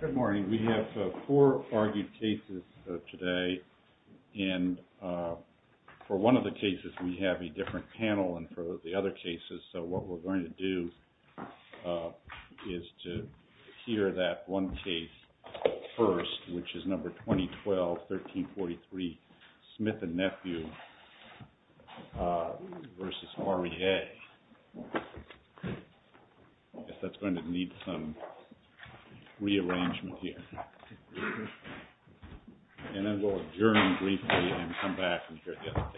Good morning. We have four argued cases today, and for one of the cases, we have a different panel, and for the other cases, what we're going to do is to hear that one case first, which is number 2012-1343, SMITH & NEPHEW v. REA. I guess that's going to need some rearrangement here, and then we'll adjourn briefly and come back and hear the other case. So, let's go ahead and hear the other case, SMITH & NEPHEW v. REA.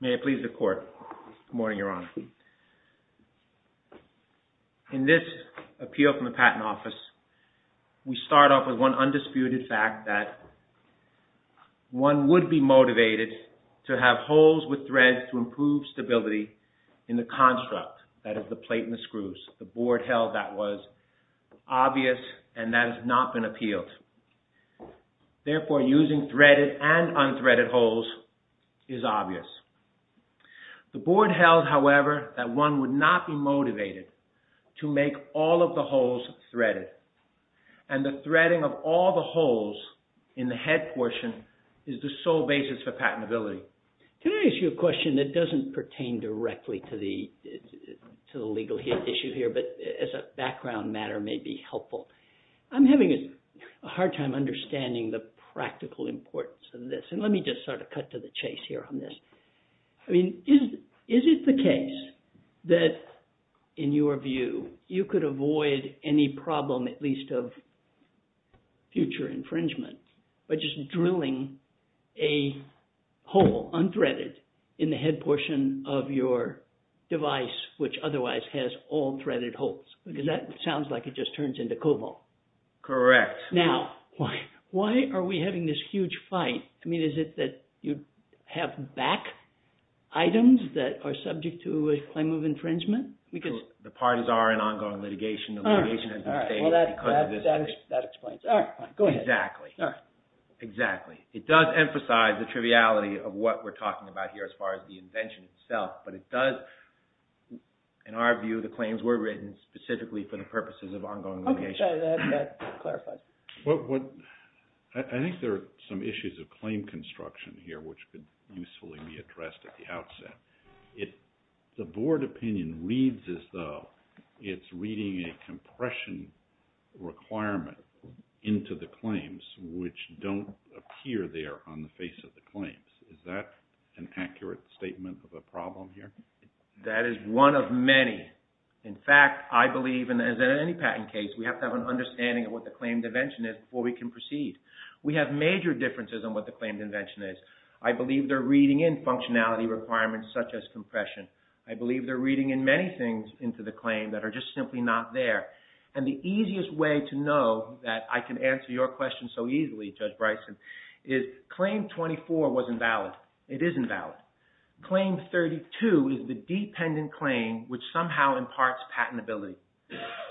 May it please the Court. Good morning, Your Honor. In this appeal from the Patent Office, we start off with one undisputed fact that one would be motivated to have holes with the construct, that is, the plate and the screws. The Board held that was obvious, and that has not been appealed. Therefore, using threaded and unthreaded holes is obvious. The Board held, however, that one would not be motivated to make all of the holes threaded, and the threading of all the holes in the head portion is the sole basis for patentability. Can I ask you a question that doesn't pertain directly to the legal issue here, but as a background matter may be helpful? I'm having a hard time understanding the practical importance of this, and let me just sort of cut to the chase here on this. I mean, is it the case that, in your view, you could avoid any problem, at least of future infringement, by just drilling a hole, unthreaded, in the head portion of your device, which otherwise has all threaded holes? Because that sounds like it just turns into cobalt. Correct. Now, why are we having this huge fight? I mean, is it that you have back items that are subject to a claim of infringement? Because the parties are in ongoing litigation. That explains it. Exactly. It does emphasize the triviality of what we're talking about here as far as the invention itself, but it does, in our view, the claims were written specifically for the purposes of ongoing litigation. I think there are some issues of claim construction here which could usefully be addressed at the outset. The board opinion reads as though it's reading a compression requirement into the claims, which don't appear there on the face of the claims. Is that an accurate statement of a problem here? That is one of many. In fact, I believe, as in any patent case, we have to have an understanding of what the claimed invention is before we can proceed. We have major differences on what the claimed invention is. I believe they're reading in functionality requirements such as compression. I believe they're reading in many things into the claim that are just simply not there. And the easiest way to know that I can answer your question so easily, Judge Bryson, is claim 24 was invalid. It isn't valid. Claim 32 is the dependent claim which somehow imparts patentability.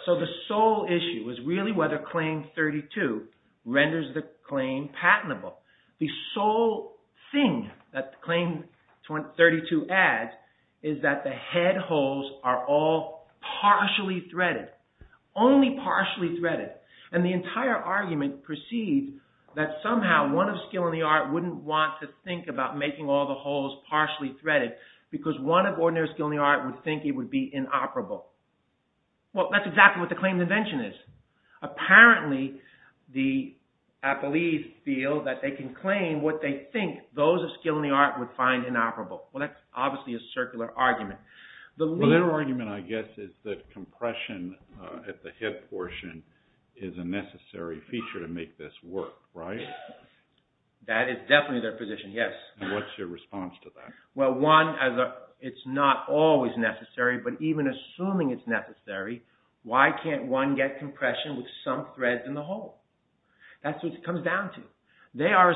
So the sole issue is really whether claim 32 renders the claim patentable. The sole thing that claim 32 adds is that the head holes are all partially threaded, only partially threaded. And the entire argument proceeds that somehow one of skill and the art wouldn't want to think about making all the holes partially threaded because one of ordinary skill and the art would think it would be inoperable. Well, that's exactly what the claimed invention is. Apparently, the appellees feel that they can claim what they think those of skill and the art would find inoperable. Well, that's obviously a circular argument. Well, their argument, I guess, is that compression at the hip portion is a necessary feature to make this work, right? That is definitely their position, yes. And what's your response to that? Well, one, it's not always necessary, but even assuming it's necessary, why can't one get compression with some threads in the hole? That's what it comes down to. They are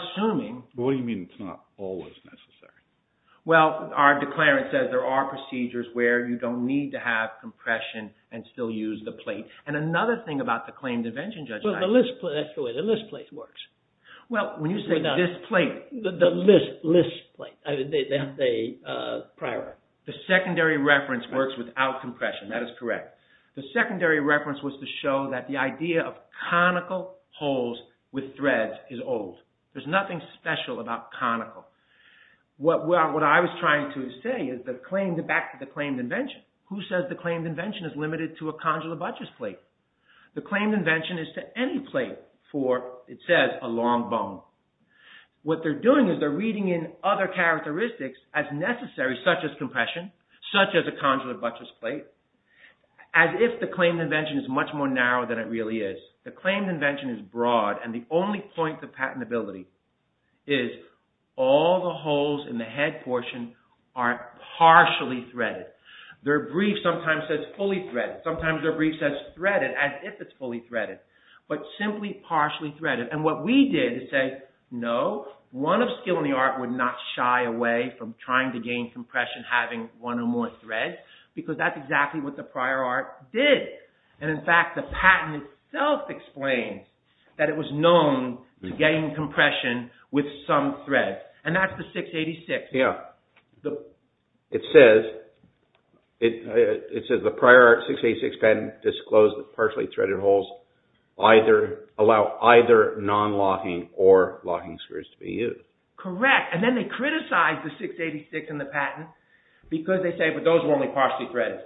procedures where you don't need to have compression and still use the plate. And another thing about the claimed invention, Judge Knight... Well, the list plate, that's the way the list plate works. Well, when you say this plate... The list plate, they prior... The secondary reference works without compression. That is correct. The secondary reference was to show that the idea of conical holes with threads is old. There's nothing special about conical. What I was trying to say is that back to the claimed invention, who says the claimed invention is limited to a conjular buttress plate? The claimed invention is to any plate for, it says, a long bone. What they're doing is they're reading in other characteristics as necessary, such as compression, such as a conjular buttress plate, as if the claimed invention is much more narrow than it really is. The claimed invention is broad and the only point of patentability is all the holes in the head portion are partially threaded. Their brief sometimes says fully threaded. Sometimes their brief says threaded as if it's fully threaded, but simply partially threaded. And what we did is say, no, one of skill in the art would not shy away from trying to gain compression having one or more threads, because that's exactly what the prior art did. And in fact, the patent itself explains that it was known to gain compression with some threads. And that's the 686. Yeah. It says, it says the prior art 686 patent disclosed that partially threaded holes either, allow either non-locking or locking screws to be used. Correct. And then they criticize the 686 and the patent because they say, but those were only partially threaded.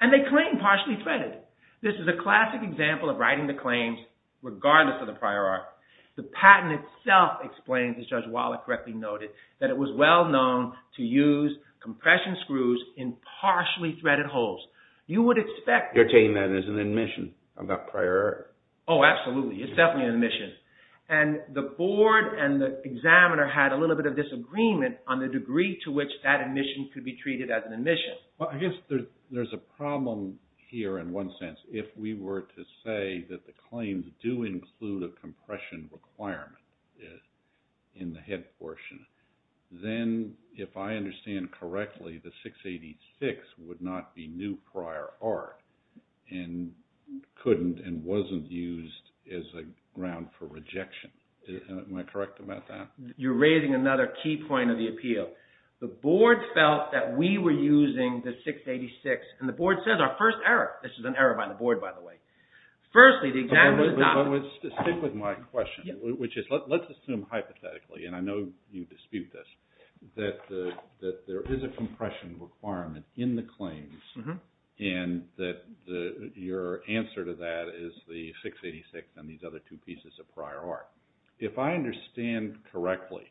And they claim partially threaded. This is a classic example of writing the claims, regardless of the prior art. The patent itself explains, as Judge Wallach correctly noted, that it was well known to use compression screws in partially threaded holes. You would expect- You're taking that as an admission of that prior art. Oh, absolutely. It's definitely an admission. And the board and the examiner had a little bit of disagreement on the degree to which that admission could be treated as an admission. Well, I guess there's a problem here in one sense. If we were to say that the claims do include a compression requirement in the head portion, then if I understand correctly, the 686 would not be new prior art and couldn't and wasn't used as a ground for rejection. Am I correct about that? You're raising another key point of the appeal. The board felt that we were using the 686 and the board says our first error. This is an error by the board, by the way. Firstly, the examiner- But stick with my question, which is, let's assume hypothetically, and I know you dispute this, that there is a compression requirement in the claims and that your answer to that is the 686 and these other two pieces of prior art. If I understand correctly,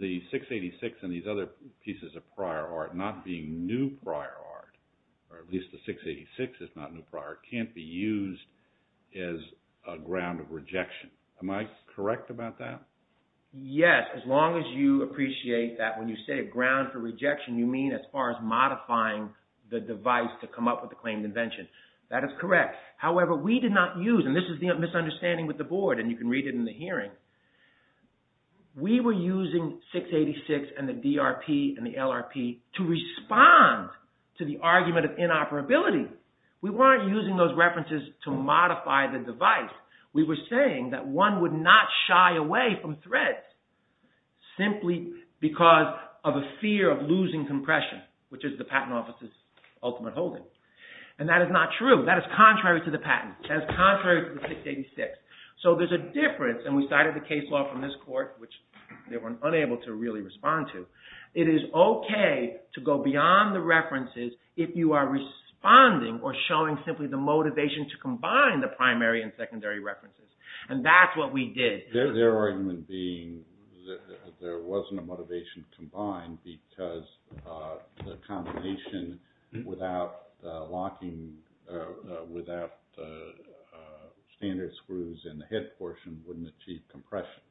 the 686 and these other pieces of prior art not being new prior art, or at least the 686 is not new prior art, can't be used as a ground of rejection. Am I correct about that? Yes, as long as you appreciate that when you say a ground for rejection, you mean as far as modifying the device to come up with the claimed invention. That is correct. However, we did not use, and this is the misunderstanding with the board, and you can read it in the hearing, we were using 686 and the DRP and the LRP to respond to the argument of inoperability. We weren't using those references to modify the device. We were saying that one would not shy away from threats simply because of a fear of losing compression, which is the patent office's ultimate holding, and that is not true. That is contrary to the patent. That is contrary to the 686. So there's a difference, and we cited the case law from this court, which they were unable to really respond to. It is okay to go beyond the references if you are responding or showing simply the motivation to combine the primary and secondary references, and that's what we did. Their argument being that there wasn't a motivation to combine because the combination without standard screws in the head portion wouldn't achieve compression.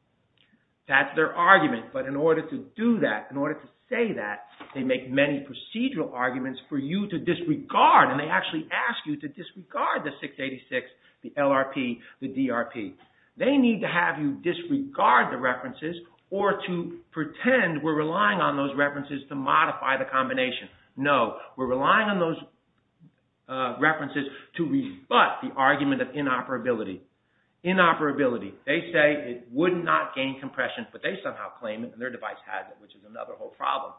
That's their argument, but in order to do that, in order to say that, they make many procedural arguments for you to disregard, and they actually ask you to disregard the 686, the LRP, the DRP. They need to have you disregard the references or to pretend we're relying on those references to modify the combination. No, we're relying on those references to rebut the argument of inoperability. They say it would not gain compression, but they somehow claim it and their device has it, which is another whole problem.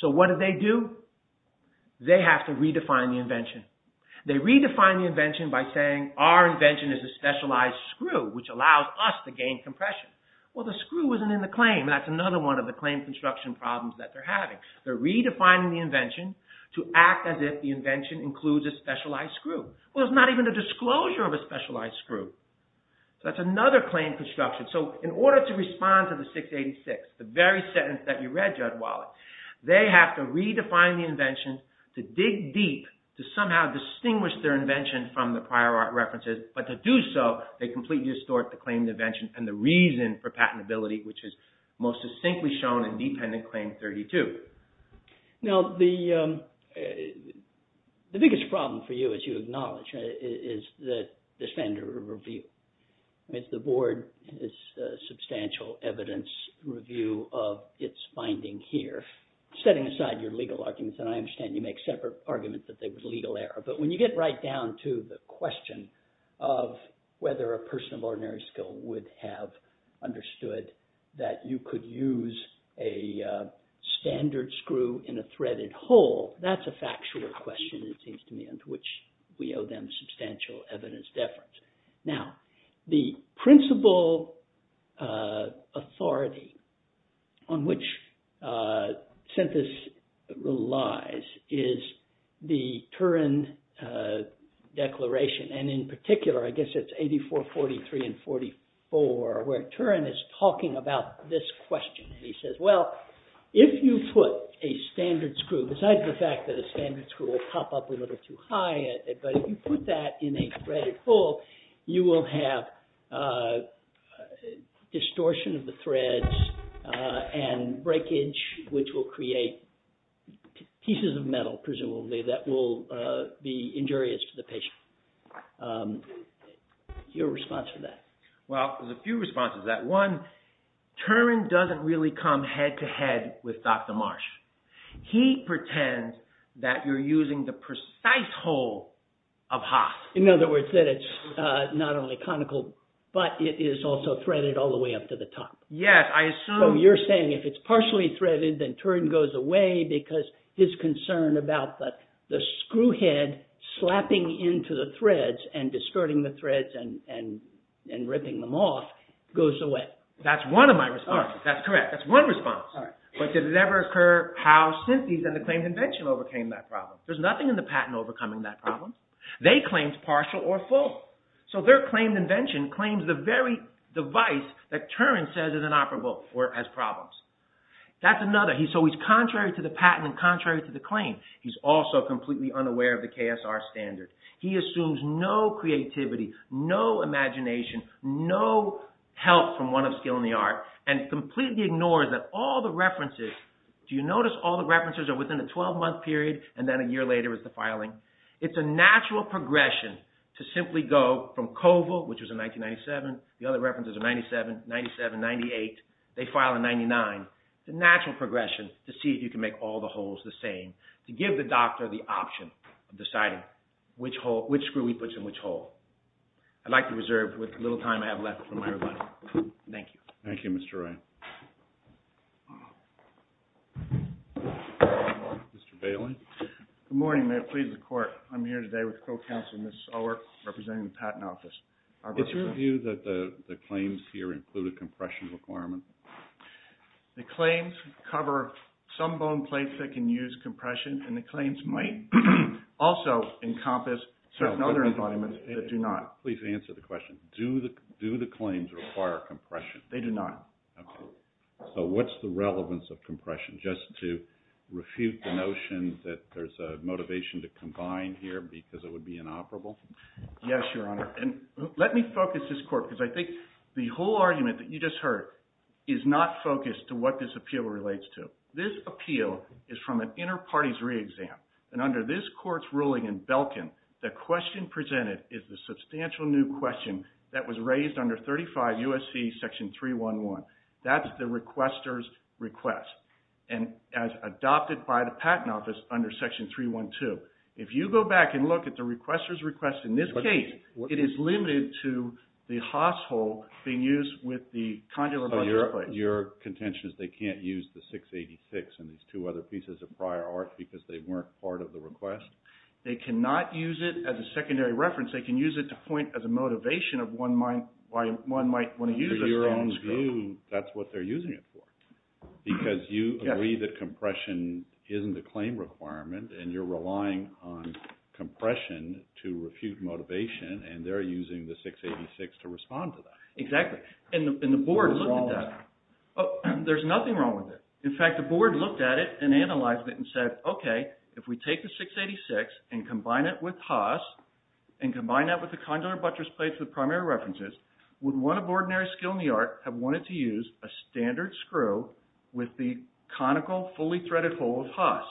So what do they do? They have to say, our invention is a specialized screw, which allows us to gain compression. Well, the screw isn't in the claim. That's another one of the claim construction problems that they're having. They're redefining the invention to act as if the invention includes a specialized screw. Well, it's not even a disclosure of a specialized screw. So that's another claim construction. So in order to respond to the 686, the very sentence that you read, Judge Wallace, they have to redefine the invention to dig deep to somehow distinguish their invention from the references. But to do so, they completely distort the claim invention and the reason for patentability, which is most succinctly shown in Dependent Claim 32. Now, the biggest problem for you, as you acknowledge, is the defender review. The board is substantial evidence review of its finding here, setting aside your legal arguments, and I understand you make separate arguments that there was a legal error. But when you get right down to the question of whether a person of ordinary skill would have understood that you could use a standard screw in a threaded hole, that's a factual question, it seems to me, and to which we owe them substantial evidence deference. Now, the principal authority on which Synthesis relies is the Turin Declaration, and in particular, I guess it's 84, 43, and 44, where Turin is talking about this question. He says, well, if you put a standard screw, besides the fact that a standard screw will pop up a little too high, but if you put that in a distortion of the threads and breakage, which will create pieces of metal, presumably, that will be injurious to the patient. Your response to that? Well, there's a few responses to that. One, Turin doesn't really come head to head with Dr. Marsh. He pretends that you're using the precise hole of Haas. In other words, that it's not only conical, but it is also threaded all the way up to the top. Yes, I assume... So you're saying if it's partially threaded, then Turin goes away because his concern about the screw head slapping into the threads and distorting the threads and ripping them off goes away. That's one of my responses. That's correct. That's one response. But did it ever occur how Synthesis and the Claims Invention overcame that problem? There's nothing in the patent overcoming that problem. They claimed partial or full. So their claimed invention claims the very device that Turin says is inoperable or has problems. That's another. So he's contrary to the patent and contrary to the claim. He's also completely unaware of the KSR standard. He assumes no creativity, no imagination, no help from one of skill in the art and completely ignores that all the references... Do you notice all the references are within a 12-month period and then a year later is the filing? It's a natural progression to simply go from Koval, which was in 1997. The other references are 97, 97, 98. They file in 99. It's a natural progression to see if you can make all the holes the same, to give the doctor the option of deciding which screw he puts in which hole. I'd like to reserve with the little time I have left from everybody. Thank you. Thank you, Mr. Ryan. Mr. Bailey? Good morning. May it please the court. I'm here today with the co-counsel, Ms. Sower, representing the Patent Office. It's your view that the claims here include a compression requirement? The claims cover some bone plates that can use compression and the claims might also encompass certain other environments that do not. Please answer the question. They do not. Okay. So what's the relevance of compression? Just to refute the notion that there's a motivation to combine here because it would be inoperable? Yes, Your Honor. And let me focus this court because I think the whole argument that you just heard is not focused to what this appeal relates to. This appeal is from an inter-parties re-exam and under this court's ruling in Belkin, the question presented is the substantial new question that was raised under 35 U.S.C. section 311. That's the requester's request and as adopted by the Patent Office under section 312. If you go back and look at the requester's request in this case, it is limited to the hostel being used with the conductor by this place. Your contention is they can't use the 686 and these two other pieces of prior art because they weren't part of the request? They cannot use it as a secondary reference. They can use it to point as a motivation of why one might want to use it. In your own view, that's what they're using it for because you agree that compression isn't a claim requirement and you're relying on compression to refute motivation and they're using the 686 to respond to that. Exactly. And the board looked at that. There's nothing wrong with it. In fact, the board looked at it and analyzed it and said, okay, if we take the 686 and combine it with Haas and combine that with the conductor buttress plate for the primary references, would one of ordinary skill in the art have wanted to use a standard screw with the conical fully threaded hole of Haas?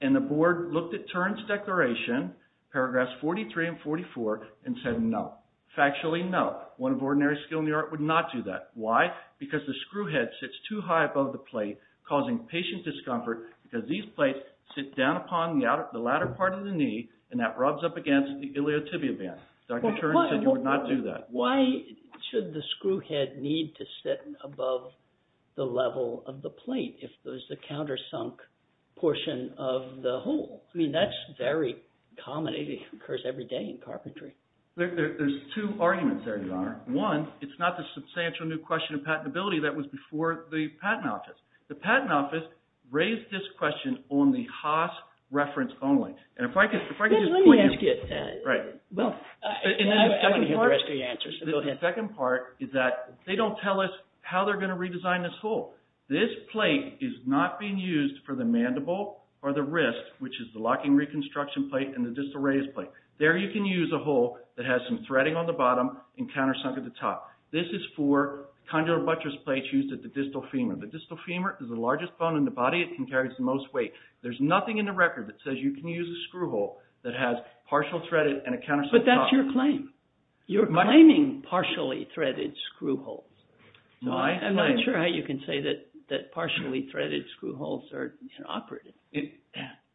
And the board looked at Turin's declaration, paragraphs 43 and 44, and said no. Factually, no. One of ordinary skill in the art would not do that. Why? Because the screw head sits too high above the plate causing patient discomfort because these plates sit down upon the latter part of the knee and that rubs up against the iliotibial band. Dr. Turin said you would not do that. Why should the screw head need to sit above the level of the plate if there's a countersunk portion of the hole? I mean, that's very common. It occurs every day in carpentry. There's two arguments there, Your Honor. One, it's not the substantial new question of patentability that was before the Patent Office. The Patent Office raised this question on the Haas reference only. Let me ask you that. I want to hear the rest of your answers. The second part is that they don't tell us how they're going to redesign this hole. This plate is not being used for the mandible or the wrist, which is the locking reconstruction plate and the disarray plate. There you can use a hole that has some threading on the bottom and countersunk at the top. This is for condylar buttress plates used at the distal femur. The distal femur is the largest bone in the body. It carries the most weight. There's nothing in the record that says you can use a screw hole that has partial threaded and a countersunk top. But that's your claim. You're claiming partially threaded screw holes. I'm not sure how you can say that partially threaded screw holes are inoperative.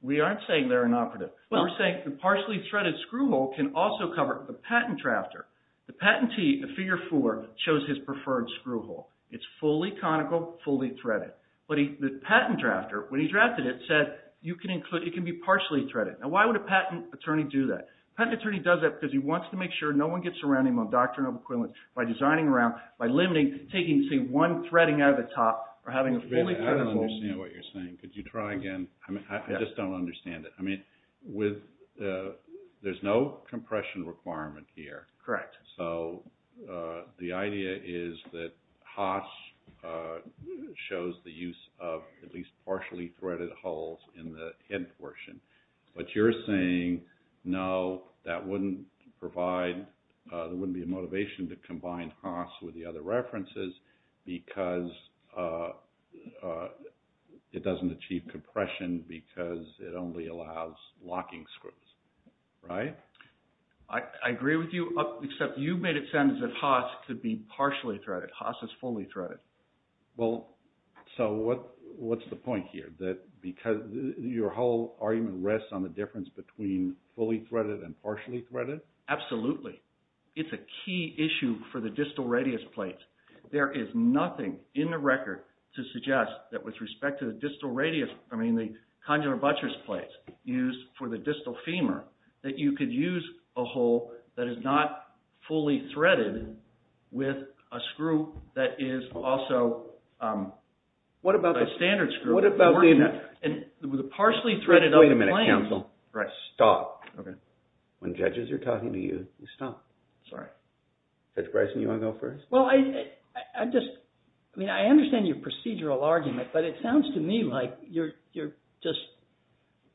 We aren't saying they're inoperative. We're saying the partially threaded screw hole can also cover the patent drafter. The patentee in Figure 4 shows his preferred screw hole. It's fully conical, fully threaded. But the patent drafter, when he drafted it, said it can be partially threaded. Now, why would a patent attorney do that? A patent attorney does that because he wants to make sure no one gets around him on doctrinal equivalence by designing around, by limiting, taking, say, one threading out of the top or having a fully threaded hole. I don't understand what you're saying. Could you try again? I just don't understand it. There's no compression requirement here. So the idea is that Haas shows the use of at least partially threaded holes in the head portion. But you're saying, no, that wouldn't provide, there wouldn't be a motivation to combine Haas with the other references because it doesn't achieve compression because it only allows locking screws, right? I agree with you, except you made it sound as if Haas could be partially threaded. Haas is fully threaded. Well, so what's the point here? That because your whole argument rests on the difference between fully threaded and partially threaded? Absolutely. It's a key issue for the distal radius plates. There is nothing in the record to suggest that with respect to the distal radius, I mean, the congenital buttress plates used for the distal femur, that you could use a hole that is not fully threaded with a screw that is also a standard screw. And with a partially threaded… Wait a minute, counsel. Stop. When judges are talking to you, you stop. Sorry. Judge Bryson, you want to go first? Well, I just, I mean, I understand your procedural argument, but it sounds to me like you're just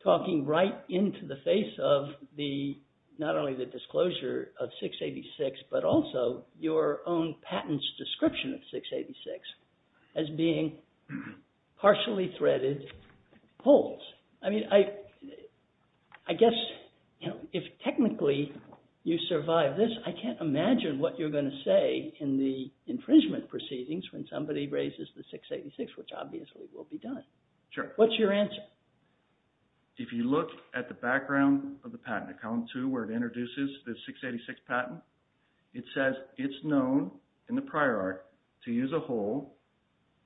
talking right into the face of the, not only the disclosure of 686, but also your own patent's description of 686 as being partially threaded holes. I mean, I guess if technically you survive this, I can't imagine what you're going to say in the infringement proceedings when somebody raises the 686, which obviously will be done. Sure. What's your answer? If you look at the background of the patent, column 2, where it introduces the 686 patent, it says it's known in the prior art to use a hole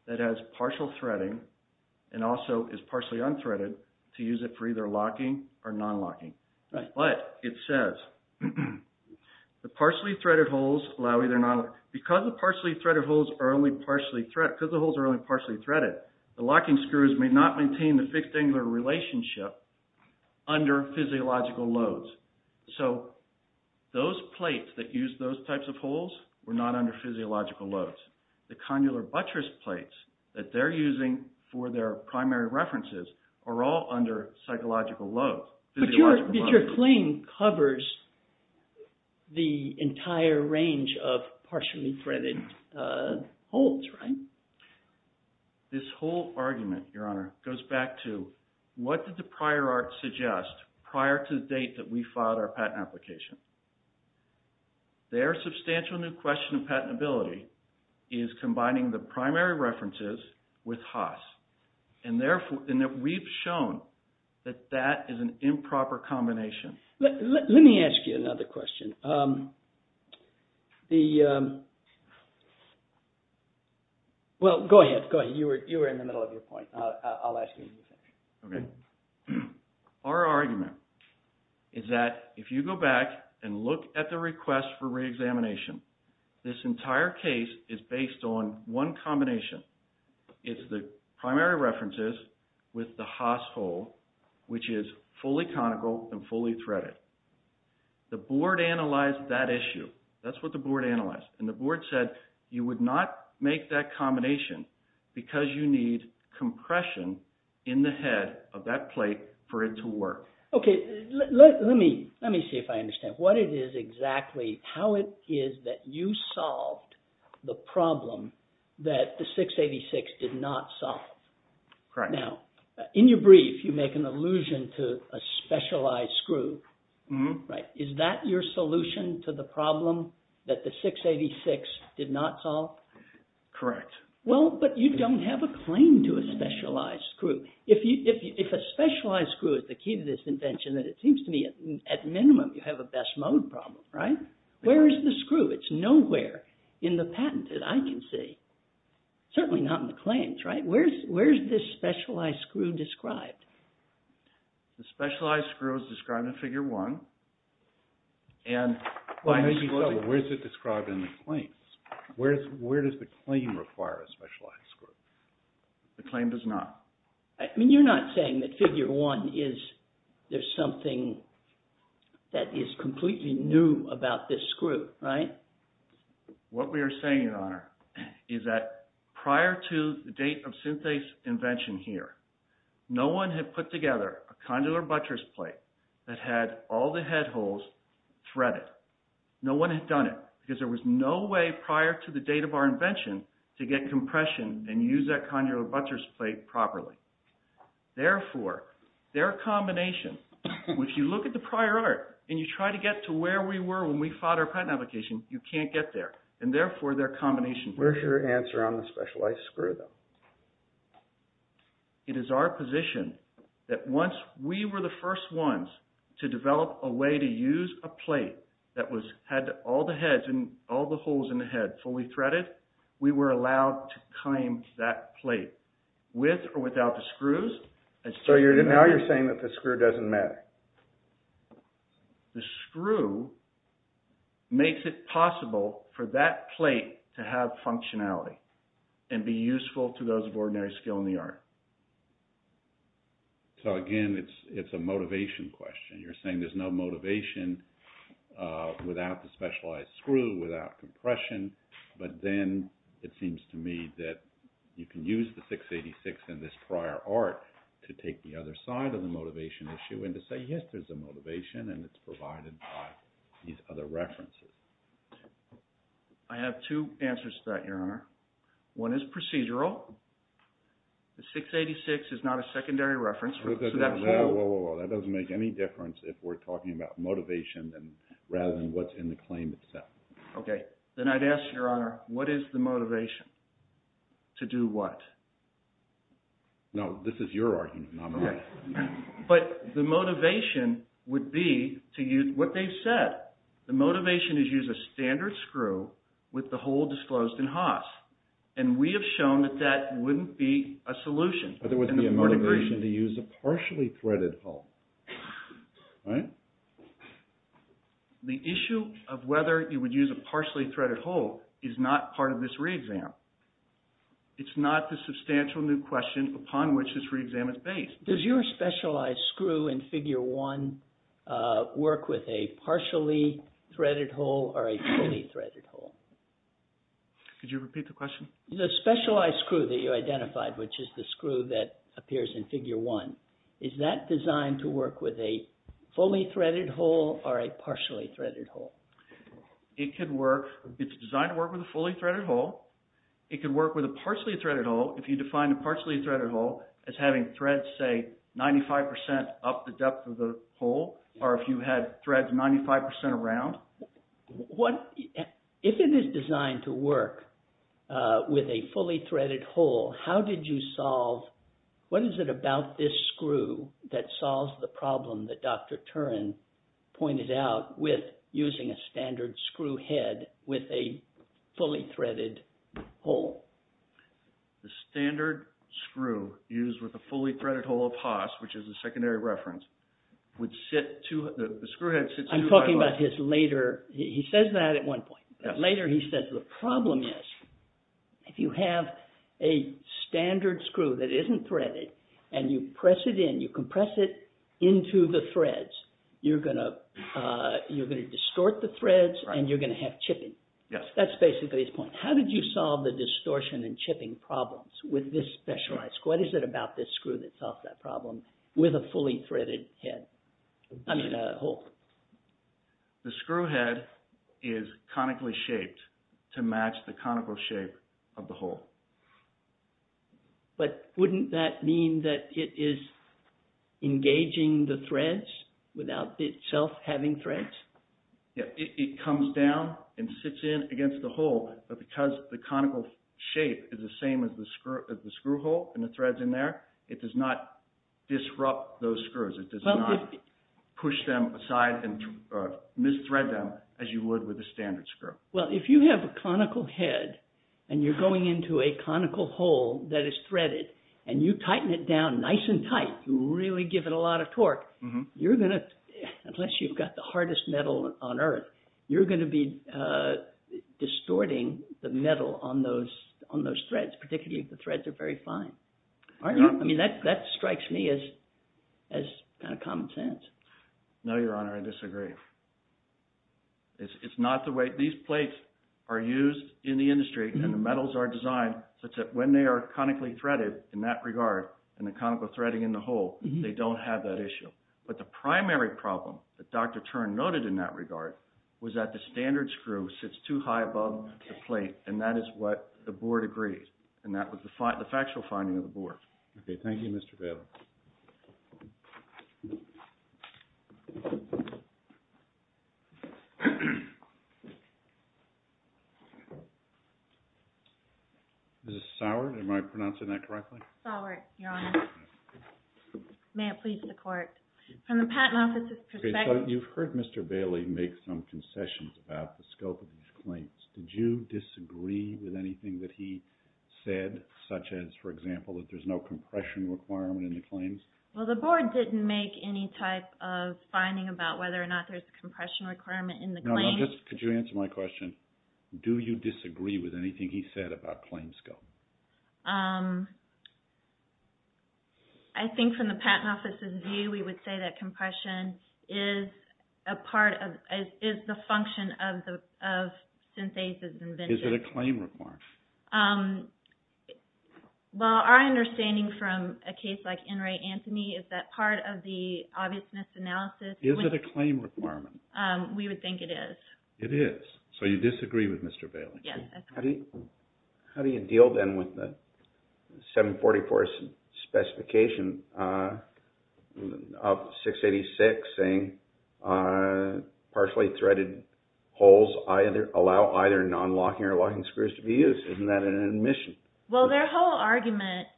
that has partial threading and also is partially unthreaded to use it for either non-locking or non-locking. But it says the partially threaded holes allow either non… Because the holes are only partially threaded, the locking screws may not maintain the fixed angular relationship under physiological loads. So those plates that use those types of holes were not under physiological loads. The condylar buttress plates that they're using for their physiological loads. But your claim covers the entire range of partially threaded holes, right? This whole argument, Your Honor, goes back to what did the prior art suggest prior to the date that we filed our patent application? Their substantial new question of patentability is combining the that is an improper combination. Let me ask you another question. Well, go ahead. Go ahead. You were in the middle of your point. I'll ask you. Okay. Our argument is that if you go back and look at the request for re-examination, this entire case is based on one combination. It's the primary references with the Haas hole, which is fully conical and fully threaded. The board analyzed that issue. That's what the board analyzed. And the board said you would not make that combination because you need compression in the head of that plate for it to work. Okay. Let me see if I understand what it is exactly, how it is that you solved the problem that the 686 did not solve. Now, in your brief, you make an allusion to a specialized screw, right? Is that your solution to the problem that the 686 did not solve? Correct. Well, but you don't have a claim to a specialized screw. If a specialized screw is the key to this invention, then it seems to me at minimum you have a best mode problem, right? Where is the screw? It's nowhere in the patent that I can see. Certainly not in the claims, right? Where is this specialized screw described? The specialized screw is described in figure one. And where is it described in the claims? Where does the claim require a specialized screw? The claim does not. I mean, you're not saying that figure one is, there's something that is completely new about this screw, right? What we are saying, Your Honor, is that prior to the date of Synthase's invention here, no one had put together a condylar buttress plate that had all the head holes threaded. No one had done it because there was no way prior to the date of our invention to get compression and use that condylar buttress plate properly. Therefore, their combination, if you look at the prior art and you try to get to where we were when we fought our patent application, you can't get there. And therefore, their combination... Where's your answer on the specialized screw, though? It is our position that once we were the first ones to develop a way to use a plate that had all the heads and all the holes in the head fully threaded, we were allowed to claim that plate with or without the screws. So now you're saying that the screw doesn't matter? The screw makes it possible for that plate to have functionality and be useful to those of ordinary skill in the art. So again, it's a motivation question. You're saying there's no motivation without the specialized screw, without compression, but then it seems to me that you can use the 686 in this prior art to take the other side of the motivation issue and to say, yes, there's a motivation and it's provided by these other references. I have two answers to that, Your Honor. One is procedural. The 686 is not a secondary reference. That doesn't make any difference if we're talking about motivation than rather than what's in the claim itself. Okay. Then I'd ask, Your Honor, what is the motivation to do what? No, this is your argument, not mine. But the motivation would be to use what they've said. The motivation is use a standard screw with the hole disclosed in Haas. And we have shown that that wouldn't be a solution. But there wouldn't be a motivation to use a partially threaded hole, right? So the issue of whether you would use a partially threaded hole is not part of this re-exam. It's not the substantial new question upon which this re-exam is based. Does your specialized screw in Figure 1 work with a partially threaded hole or a fully threaded hole? Could you repeat the question? The specialized screw that you identified, which is the screw that appears in Figure 1, is that designed to work with a fully threaded hole or a partially threaded hole? It could work. It's designed to work with a fully threaded hole. It could work with a partially threaded hole if you define a partially threaded hole as having threads, say, 95% up the depth of the hole, or if you had threads 95% around. If it is designed to work with a fully threaded hole, how did you solve... What is it about this screw that solves the problem that Dr. Turin pointed out with using a standard screw head with a fully threaded hole? The standard screw used with a fully threaded hole of Haas, which is a secondary reference, would sit to... The screw head sits to... I'm talking about his later... He says that at one point. Later, he says the problem is if you have a standard screw that isn't threaded and you press it in, you compress it into the threads, you're going to distort the threads and you're going to have chipping. That's basically his point. How did you solve the distortion and chipping problems with this specialized screw? What is it about this screw that solves that problem with a fully threaded hole? The screw head is conically shaped to match the conical shape of the hole. But wouldn't that mean that it is engaging the threads without itself having threads? It comes down and sits in against the hole, but because the conical shape is the same as the screw hole and the threads in there, it does not disrupt those screws. It does not push them aside and misthread them as you would with a standard screw. Well, if you have a conical head and you're going into a conical hole that is threaded and you tighten it down nice and tight to really give it a lot of torque, unless you've got the hardest metal on earth, you're going to be distorting the metal on those threads, particularly if the threads are very fine. I mean, that strikes me as kind of common sense. No, Your Honor, I disagree. These plates are used in the industry and the metals are designed such that when they are conically threaded in that regard and the conical threading in the hole, they don't have that issue. But the primary problem that Dr. Tern noted in that regard was that the standard screw sits too high above the plate, and that is what the board agreed. And that was the factual finding of the board. Okay, thank you, Mr. Bailey. This is Sauer. Am I pronouncing that correctly? Sauer, Your Honor. May it please the Court. From the Patent Office's perspective— Did you disagree with anything that he said, such as, for example, that there's no compression requirement in the claims? Well, the board didn't make any type of finding about whether or not there's a compression requirement in the claims. No, no, just could you answer my question? Do you disagree with anything he said about claim scope? I think from the Patent Office's view, we would say that compression is a part of, is the function of synthases and vintages. Is it a claim requirement? Well, our understanding from a case like In re Antony is that part of the obviousness analysis— Is it a claim requirement? We would think it is. It is. So you disagree with Mr. Bailey? Yes. How do you deal then with the 744 specification of 686 saying partially threaded holes allow either non-locking or locking screws to be used? Isn't that an admission? Well, their whole argument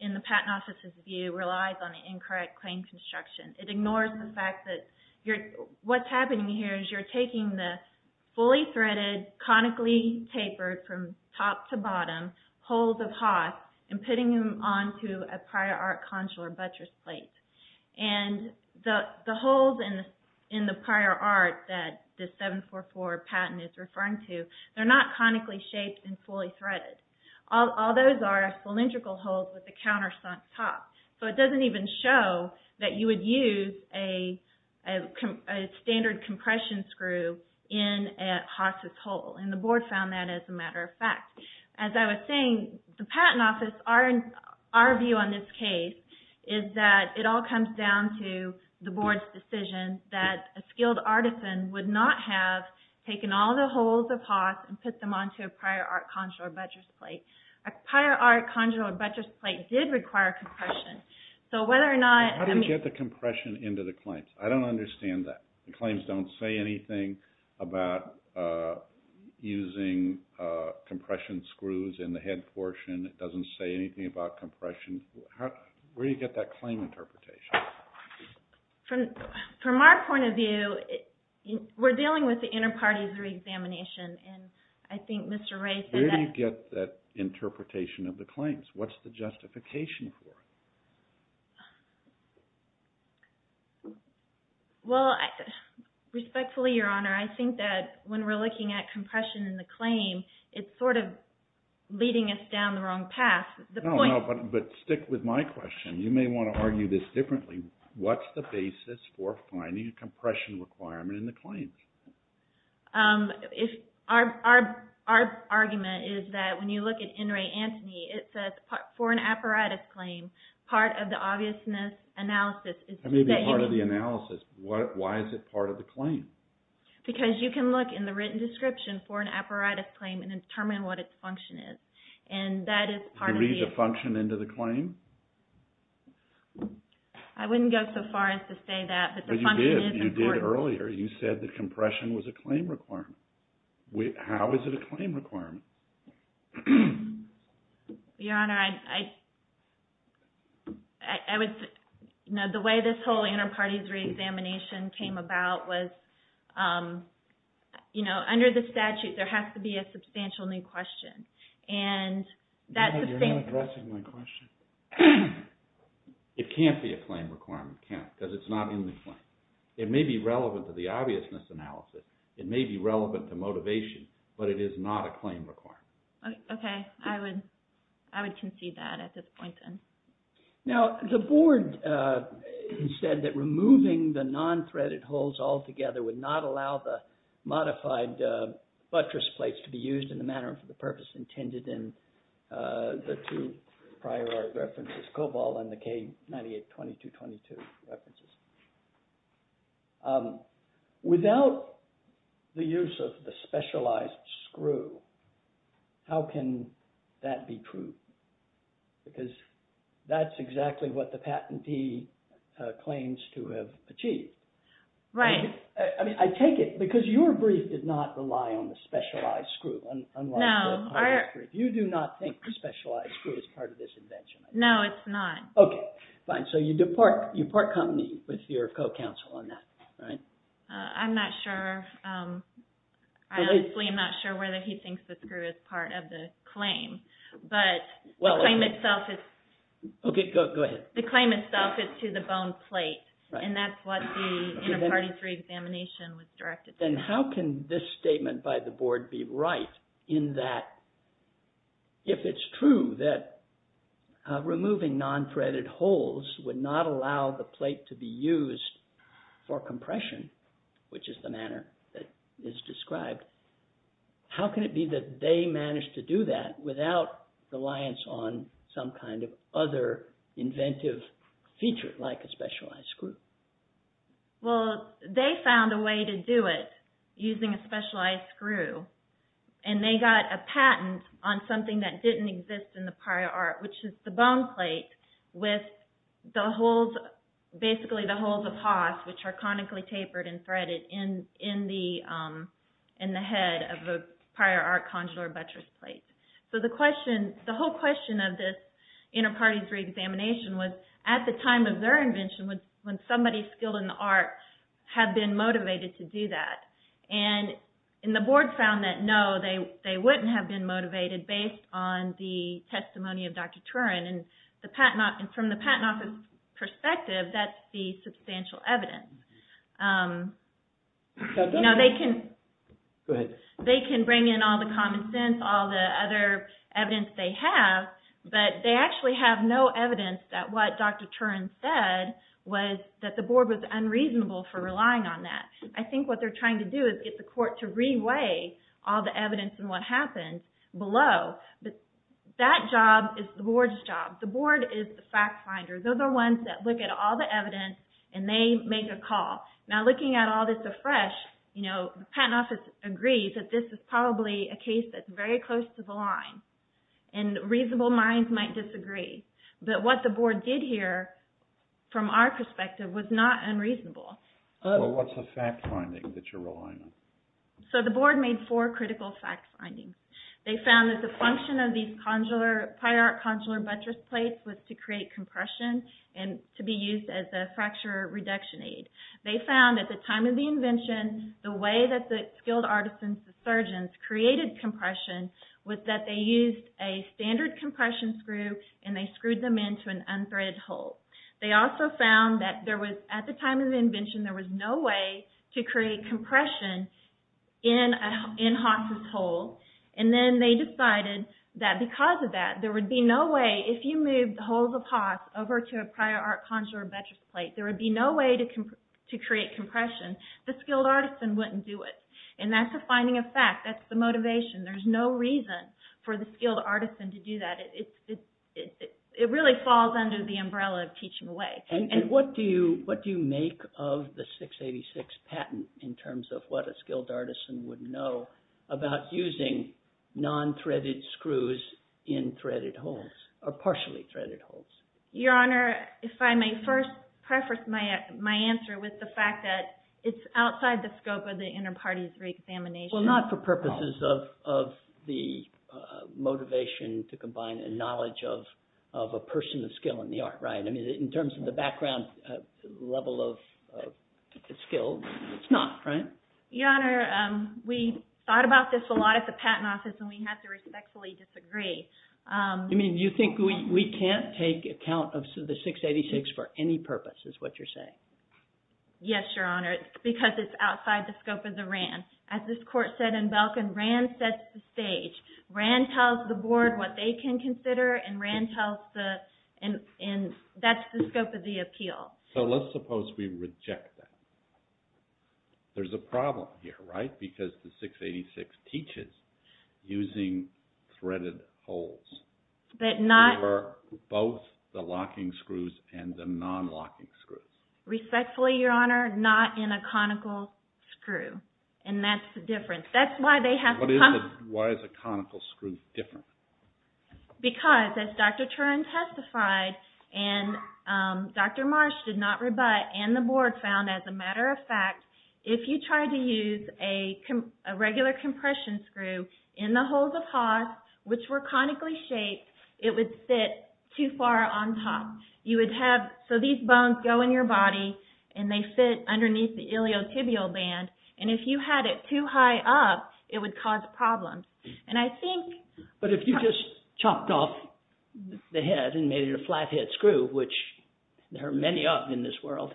in the Patent Office's view relies on incorrect claim construction. It ignores the fact that what's happening here is you're taking the fully threaded, conically tapered from top to bottom holes of Haas and putting them onto a prior art consular buttress plate. And the holes in the prior art that the 744 patent is referring to, they're not conically shaped and fully threaded. All those are cylindrical holes with a countersunk top. So it doesn't even show that you would use a standard compression screw in a Haas's hole. And the board found that as a matter of fact. As I was saying, the Patent Office, our view on this case is that it all comes down to the board's decision that a skilled artisan would not have taken all the holes of Haas and put them onto a prior art consular buttress plate. A prior art consular buttress plate did require compression. So whether or not... How do you get the compression into the claims? I don't understand that. The claims don't say anything about using compression screws in the head portion. It doesn't say anything about compression. Where do you get that claim interpretation? From our point of view, we're dealing with the inter-parties re-examination. And I think Mr. Ray said that... Where do you get that interpretation of the claims? What's the justification for it? Well, respectfully, Your Honor, I think that when we're looking at compression in the claim, it's sort of leading us down the wrong path. No, no, but stick with my question. You may want to argue this differently. What's the basis for finding a compression requirement in the claims? Our argument is that when you look at NRA Antony, it says, for an apparatus claim, part of the obviousness analysis is to say... That may be part of the analysis. Why is it part of the claim? Because you can look in the written description for an apparatus claim and determine what its function is. And that is part of the... You read the function into the claim? I wouldn't go so far as to say that, but the function is important. But you did. You did earlier. You said that compression was a claim requirement. How is it a claim requirement? Your Honor, the way this whole inter-parties re-examination came about was, under the statute, there has to be a substantial new question. And that's the same... You're not addressing my question. It can't be a claim requirement, can't, because it's not in the claim. It may be relevant to the obviousness analysis. It may be relevant to motivation, but it is not a claim requirement. Okay. I would concede that at this point, then. Now, the board said that removing the non-threaded holes altogether would not allow the modified buttress plates to be used in the manner for the purpose intended in the two prior art references, Cobalt and the K982222 references. Um, without the use of the specialized screw, how can that be true? Because that's exactly what the patentee claims to have achieved. Right. I mean, I take it... Because your brief did not rely on the specialized screw, unlike... No, our... You do not think the specialized screw is part of this invention? No, it's not. Okay, fine. You part company with your co-counsel on that, right? I'm not sure. I honestly am not sure whether he thinks the screw is part of the claim. But the claim itself is... Okay, go ahead. The claim itself is to the bone plate, and that's what the Interparty 3 examination was directed to. Then how can this statement by the board be right in that, if it's true that removing non-threaded holes would not allow the plate to be used for compression, which is the manner that is described, how can it be that they managed to do that without reliance on some kind of other inventive feature like a specialized screw? Well, they found a way to do it using a specialized screw, and they got a patent on something that didn't exist in the prior art, which is the bone plate with the holes, basically the holes of Haas, which are conically tapered and threaded in the head of a prior art conjurer buttress plate. So the question, the whole question of this Interparty 3 examination was, at the time of their invention, when somebody skilled in the art had been motivated to do that. And the board found that, no, they wouldn't have been motivated based on the testimony of Dr. Turin. And from the patent office's perspective, that's the substantial evidence. They can bring in all the common sense, all the other evidence they have, but they actually have no evidence that what Dr. Turin said was that the board was unreasonable for relying on that. I think what they're trying to do is get the court to reweigh all the evidence and what happened below. That job is the board's job. The board is the fact finder. Those are the ones that look at all the evidence, and they make a call. Now, looking at all this afresh, the patent office agrees that this is probably a case that's very close to the line, and reasonable minds might disagree. But what the board did here, from our perspective, was not unreasonable. What's the fact finding that you're relying on? So the board made four critical fact findings. They found that the function of these pyrocondylar buttress plates was to create compression and to be used as a fracture reduction aid. They found, at the time of the invention, the way that the skilled artisans, the surgeons, created compression was that they used a standard compression screw, and they screwed them into an unthreaded hole. They also found that, at the time of the invention, there was no way to create compression in Haas's hole. And then they decided that, because of that, there would be no way, if you moved the holes of Haas over to a pyrocondylar buttress plate, there would be no way to create compression. The skilled artisan wouldn't do it. And that's a finding of fact. That's the motivation. There's no reason for the skilled artisan to do that. It really falls under the umbrella of teaching away. And what do you make of the 686 patent, in terms of what a skilled artisan would know about using non-threaded screws in threaded holes, or partially threaded holes? Your Honor, if I may first preface my answer with the fact that it's outside the scope of the inter-parties re-examination. Well, not for purposes of the motivation to combine a knowledge of a person of skill in the art, right? I mean, in terms of the background level of skill, it's not, right? Your Honor, we thought about this a lot at the patent office, and we have to respectfully disagree. You mean, you think we can't take account of the 686 for any purpose, is what you're saying? Yes, Your Honor, because it's outside the scope of the RAND. As this court said in Belkin, RAND sets the stage. RAND tells the board what they can consider, and RAND tells the, and that's the scope of the appeal. So let's suppose we reject that. There's a problem here, right? Because the 686 teaches using threaded holes. But not. Both the locking screws and the non-locking screws. Respectfully, Your Honor, not in a conical screw. And that's the difference. That's why they have to come... But why is a conical screw different? Because, as Dr. Turin testified, and Dr. Marsh did not rebut, and the board found, as a matter of fact, if you tried to use a regular compression screw in the holes of Haas, which were conically shaped, it would fit too far on top. You would have, so these bones go in your body, and they fit underneath the iliotibial band, and if you had it too high up, it would cause a problem. And I think... But if you just chopped off the head and made it a flathead screw, which there are many of in this world,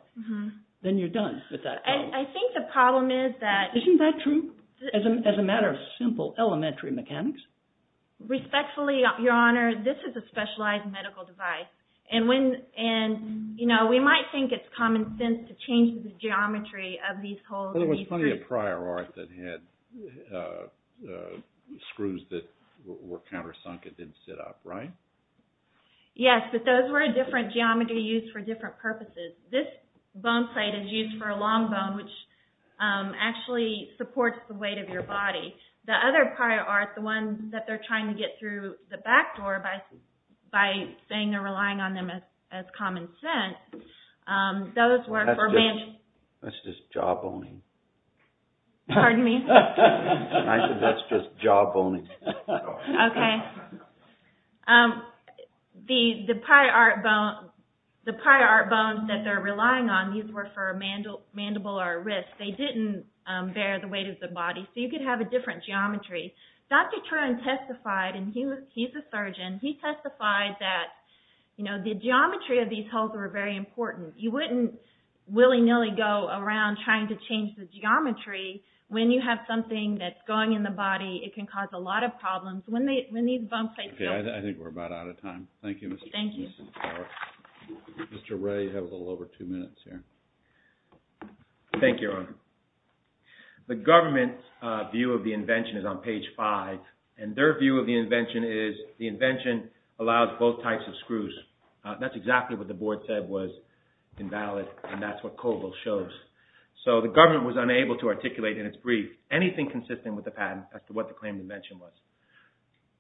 then you're done with that problem. I think the problem is that... Isn't that true? As a matter of simple elementary mechanics? Respectfully, Your Honor, this is a specialized medical device, and we might think it's common sense to change the geometry of these holes. There was plenty of prior art that had screws that were countersunk and didn't sit up, right? Yes, but those were a different geometry used for different purposes. This bone plate is used for a long bone, which actually supports the weight of your body. The other prior art, the one that they're trying to get through the back door by saying they're relying on them as common sense, those were for... That's just jaw boning. Pardon me? I said that's just jaw boning. Okay. The prior art bones that they're relying on, these were for a mandible or a wrist. They didn't bear the weight of the body. So you could have a different geometry. Dr. Trenum testified, and he's a surgeon, he testified that the geometry of these holes were very important. You wouldn't willy-nilly go around trying to change the geometry when you have something that's going in the body. It can cause a lot of problems. When these bone plates... Okay, I think we're about out of time. Thank you, Mrs. Barrett. Mr. Ray, you have a little over two minutes here. Thank you, Your Honor. The government's view of the invention is on page five, and their view of the invention is the invention allows both types of screws. That's exactly what the board said was invalid, and that's what Colville shows. So the government was unable to articulate in its brief anything consistent with the patent as to what the claim to invention was.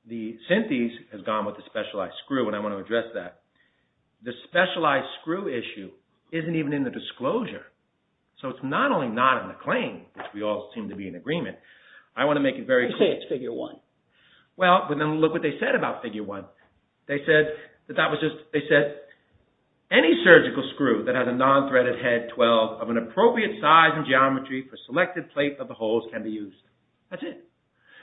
The Synthes has gone with the specialized screw, and I want to address that. The specialized screw issue isn't even in the disclosure. So it's not only not in the claim, which we all seem to be in agreement, I want to make it very clear. You say it's figure one. Well, but then look what they said about figure one. They said that that was just, they said, any surgical screw that has a non-threaded head 12 of an appropriate size and geometry for selected plate of the holes can be used. That's it.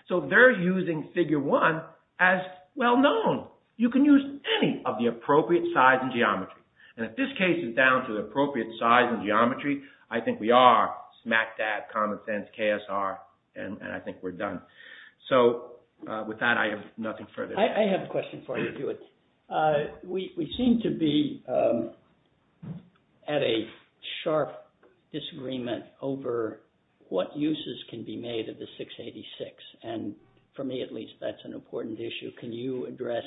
So they're using figure one as well known. You can use any of the appropriate size and geometry. And if this case is down to the appropriate size and geometry, I think we are smack dab, common sense, KSR, and I think we're done. So with that, I have nothing further. I have a question for you, Dewitt. We seem to be at a sharp disagreement over what uses can be made of the 686. And for me, at least, that's an important issue. Can you address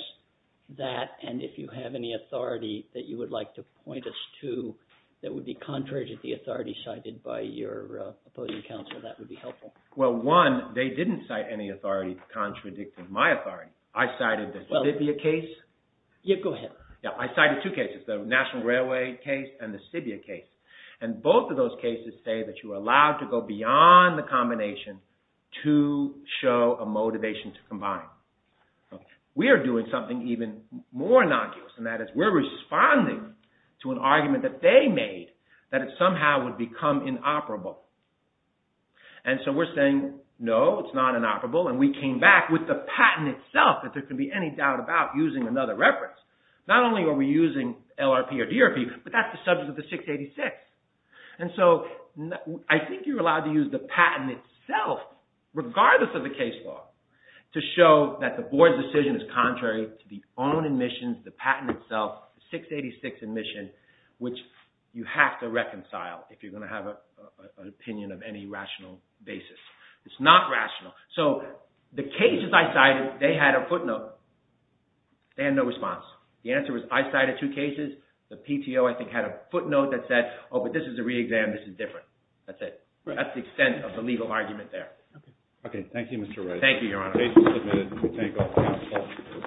that? And if you have any authority that you would like to point us to that would be contrary to the authority cited by your opposing counsel, that would be helpful. Well, one, they didn't cite any authority contradicting my authority. I cited the Sibbia case. Yeah, go ahead. Yeah, I cited two cases, the National Railway case and the Sibbia case. And both of those cases say that you are allowed to go beyond the combination to show a motivation to combine. We are doing something even more innocuous, and that is we're responding to an argument that they made that it somehow would become inoperable. And so we're saying, no, it's not inoperable. And we came back with the patent itself that there can be any doubt about using another reference. Not only are we using LRP or DRP, but that's the subject of the 686. And so I think you're allowed to use the patent itself regardless of the case law to show that the board's decision is contrary to the own admissions, the patent itself, 686 admission, which you have to reconcile if you're gonna have an opinion of any rational basis. It's not rational. So the cases I cited, they had a footnote. They had no response. The answer was I cited two cases. The PTO, I think, had a footnote that said, oh, but this is a re-exam, this is different. That's it. That's the extent of the legal argument there. Okay, thank you, Mr. Wright. Thank you, Your Honor. The case is submitted. We thank all.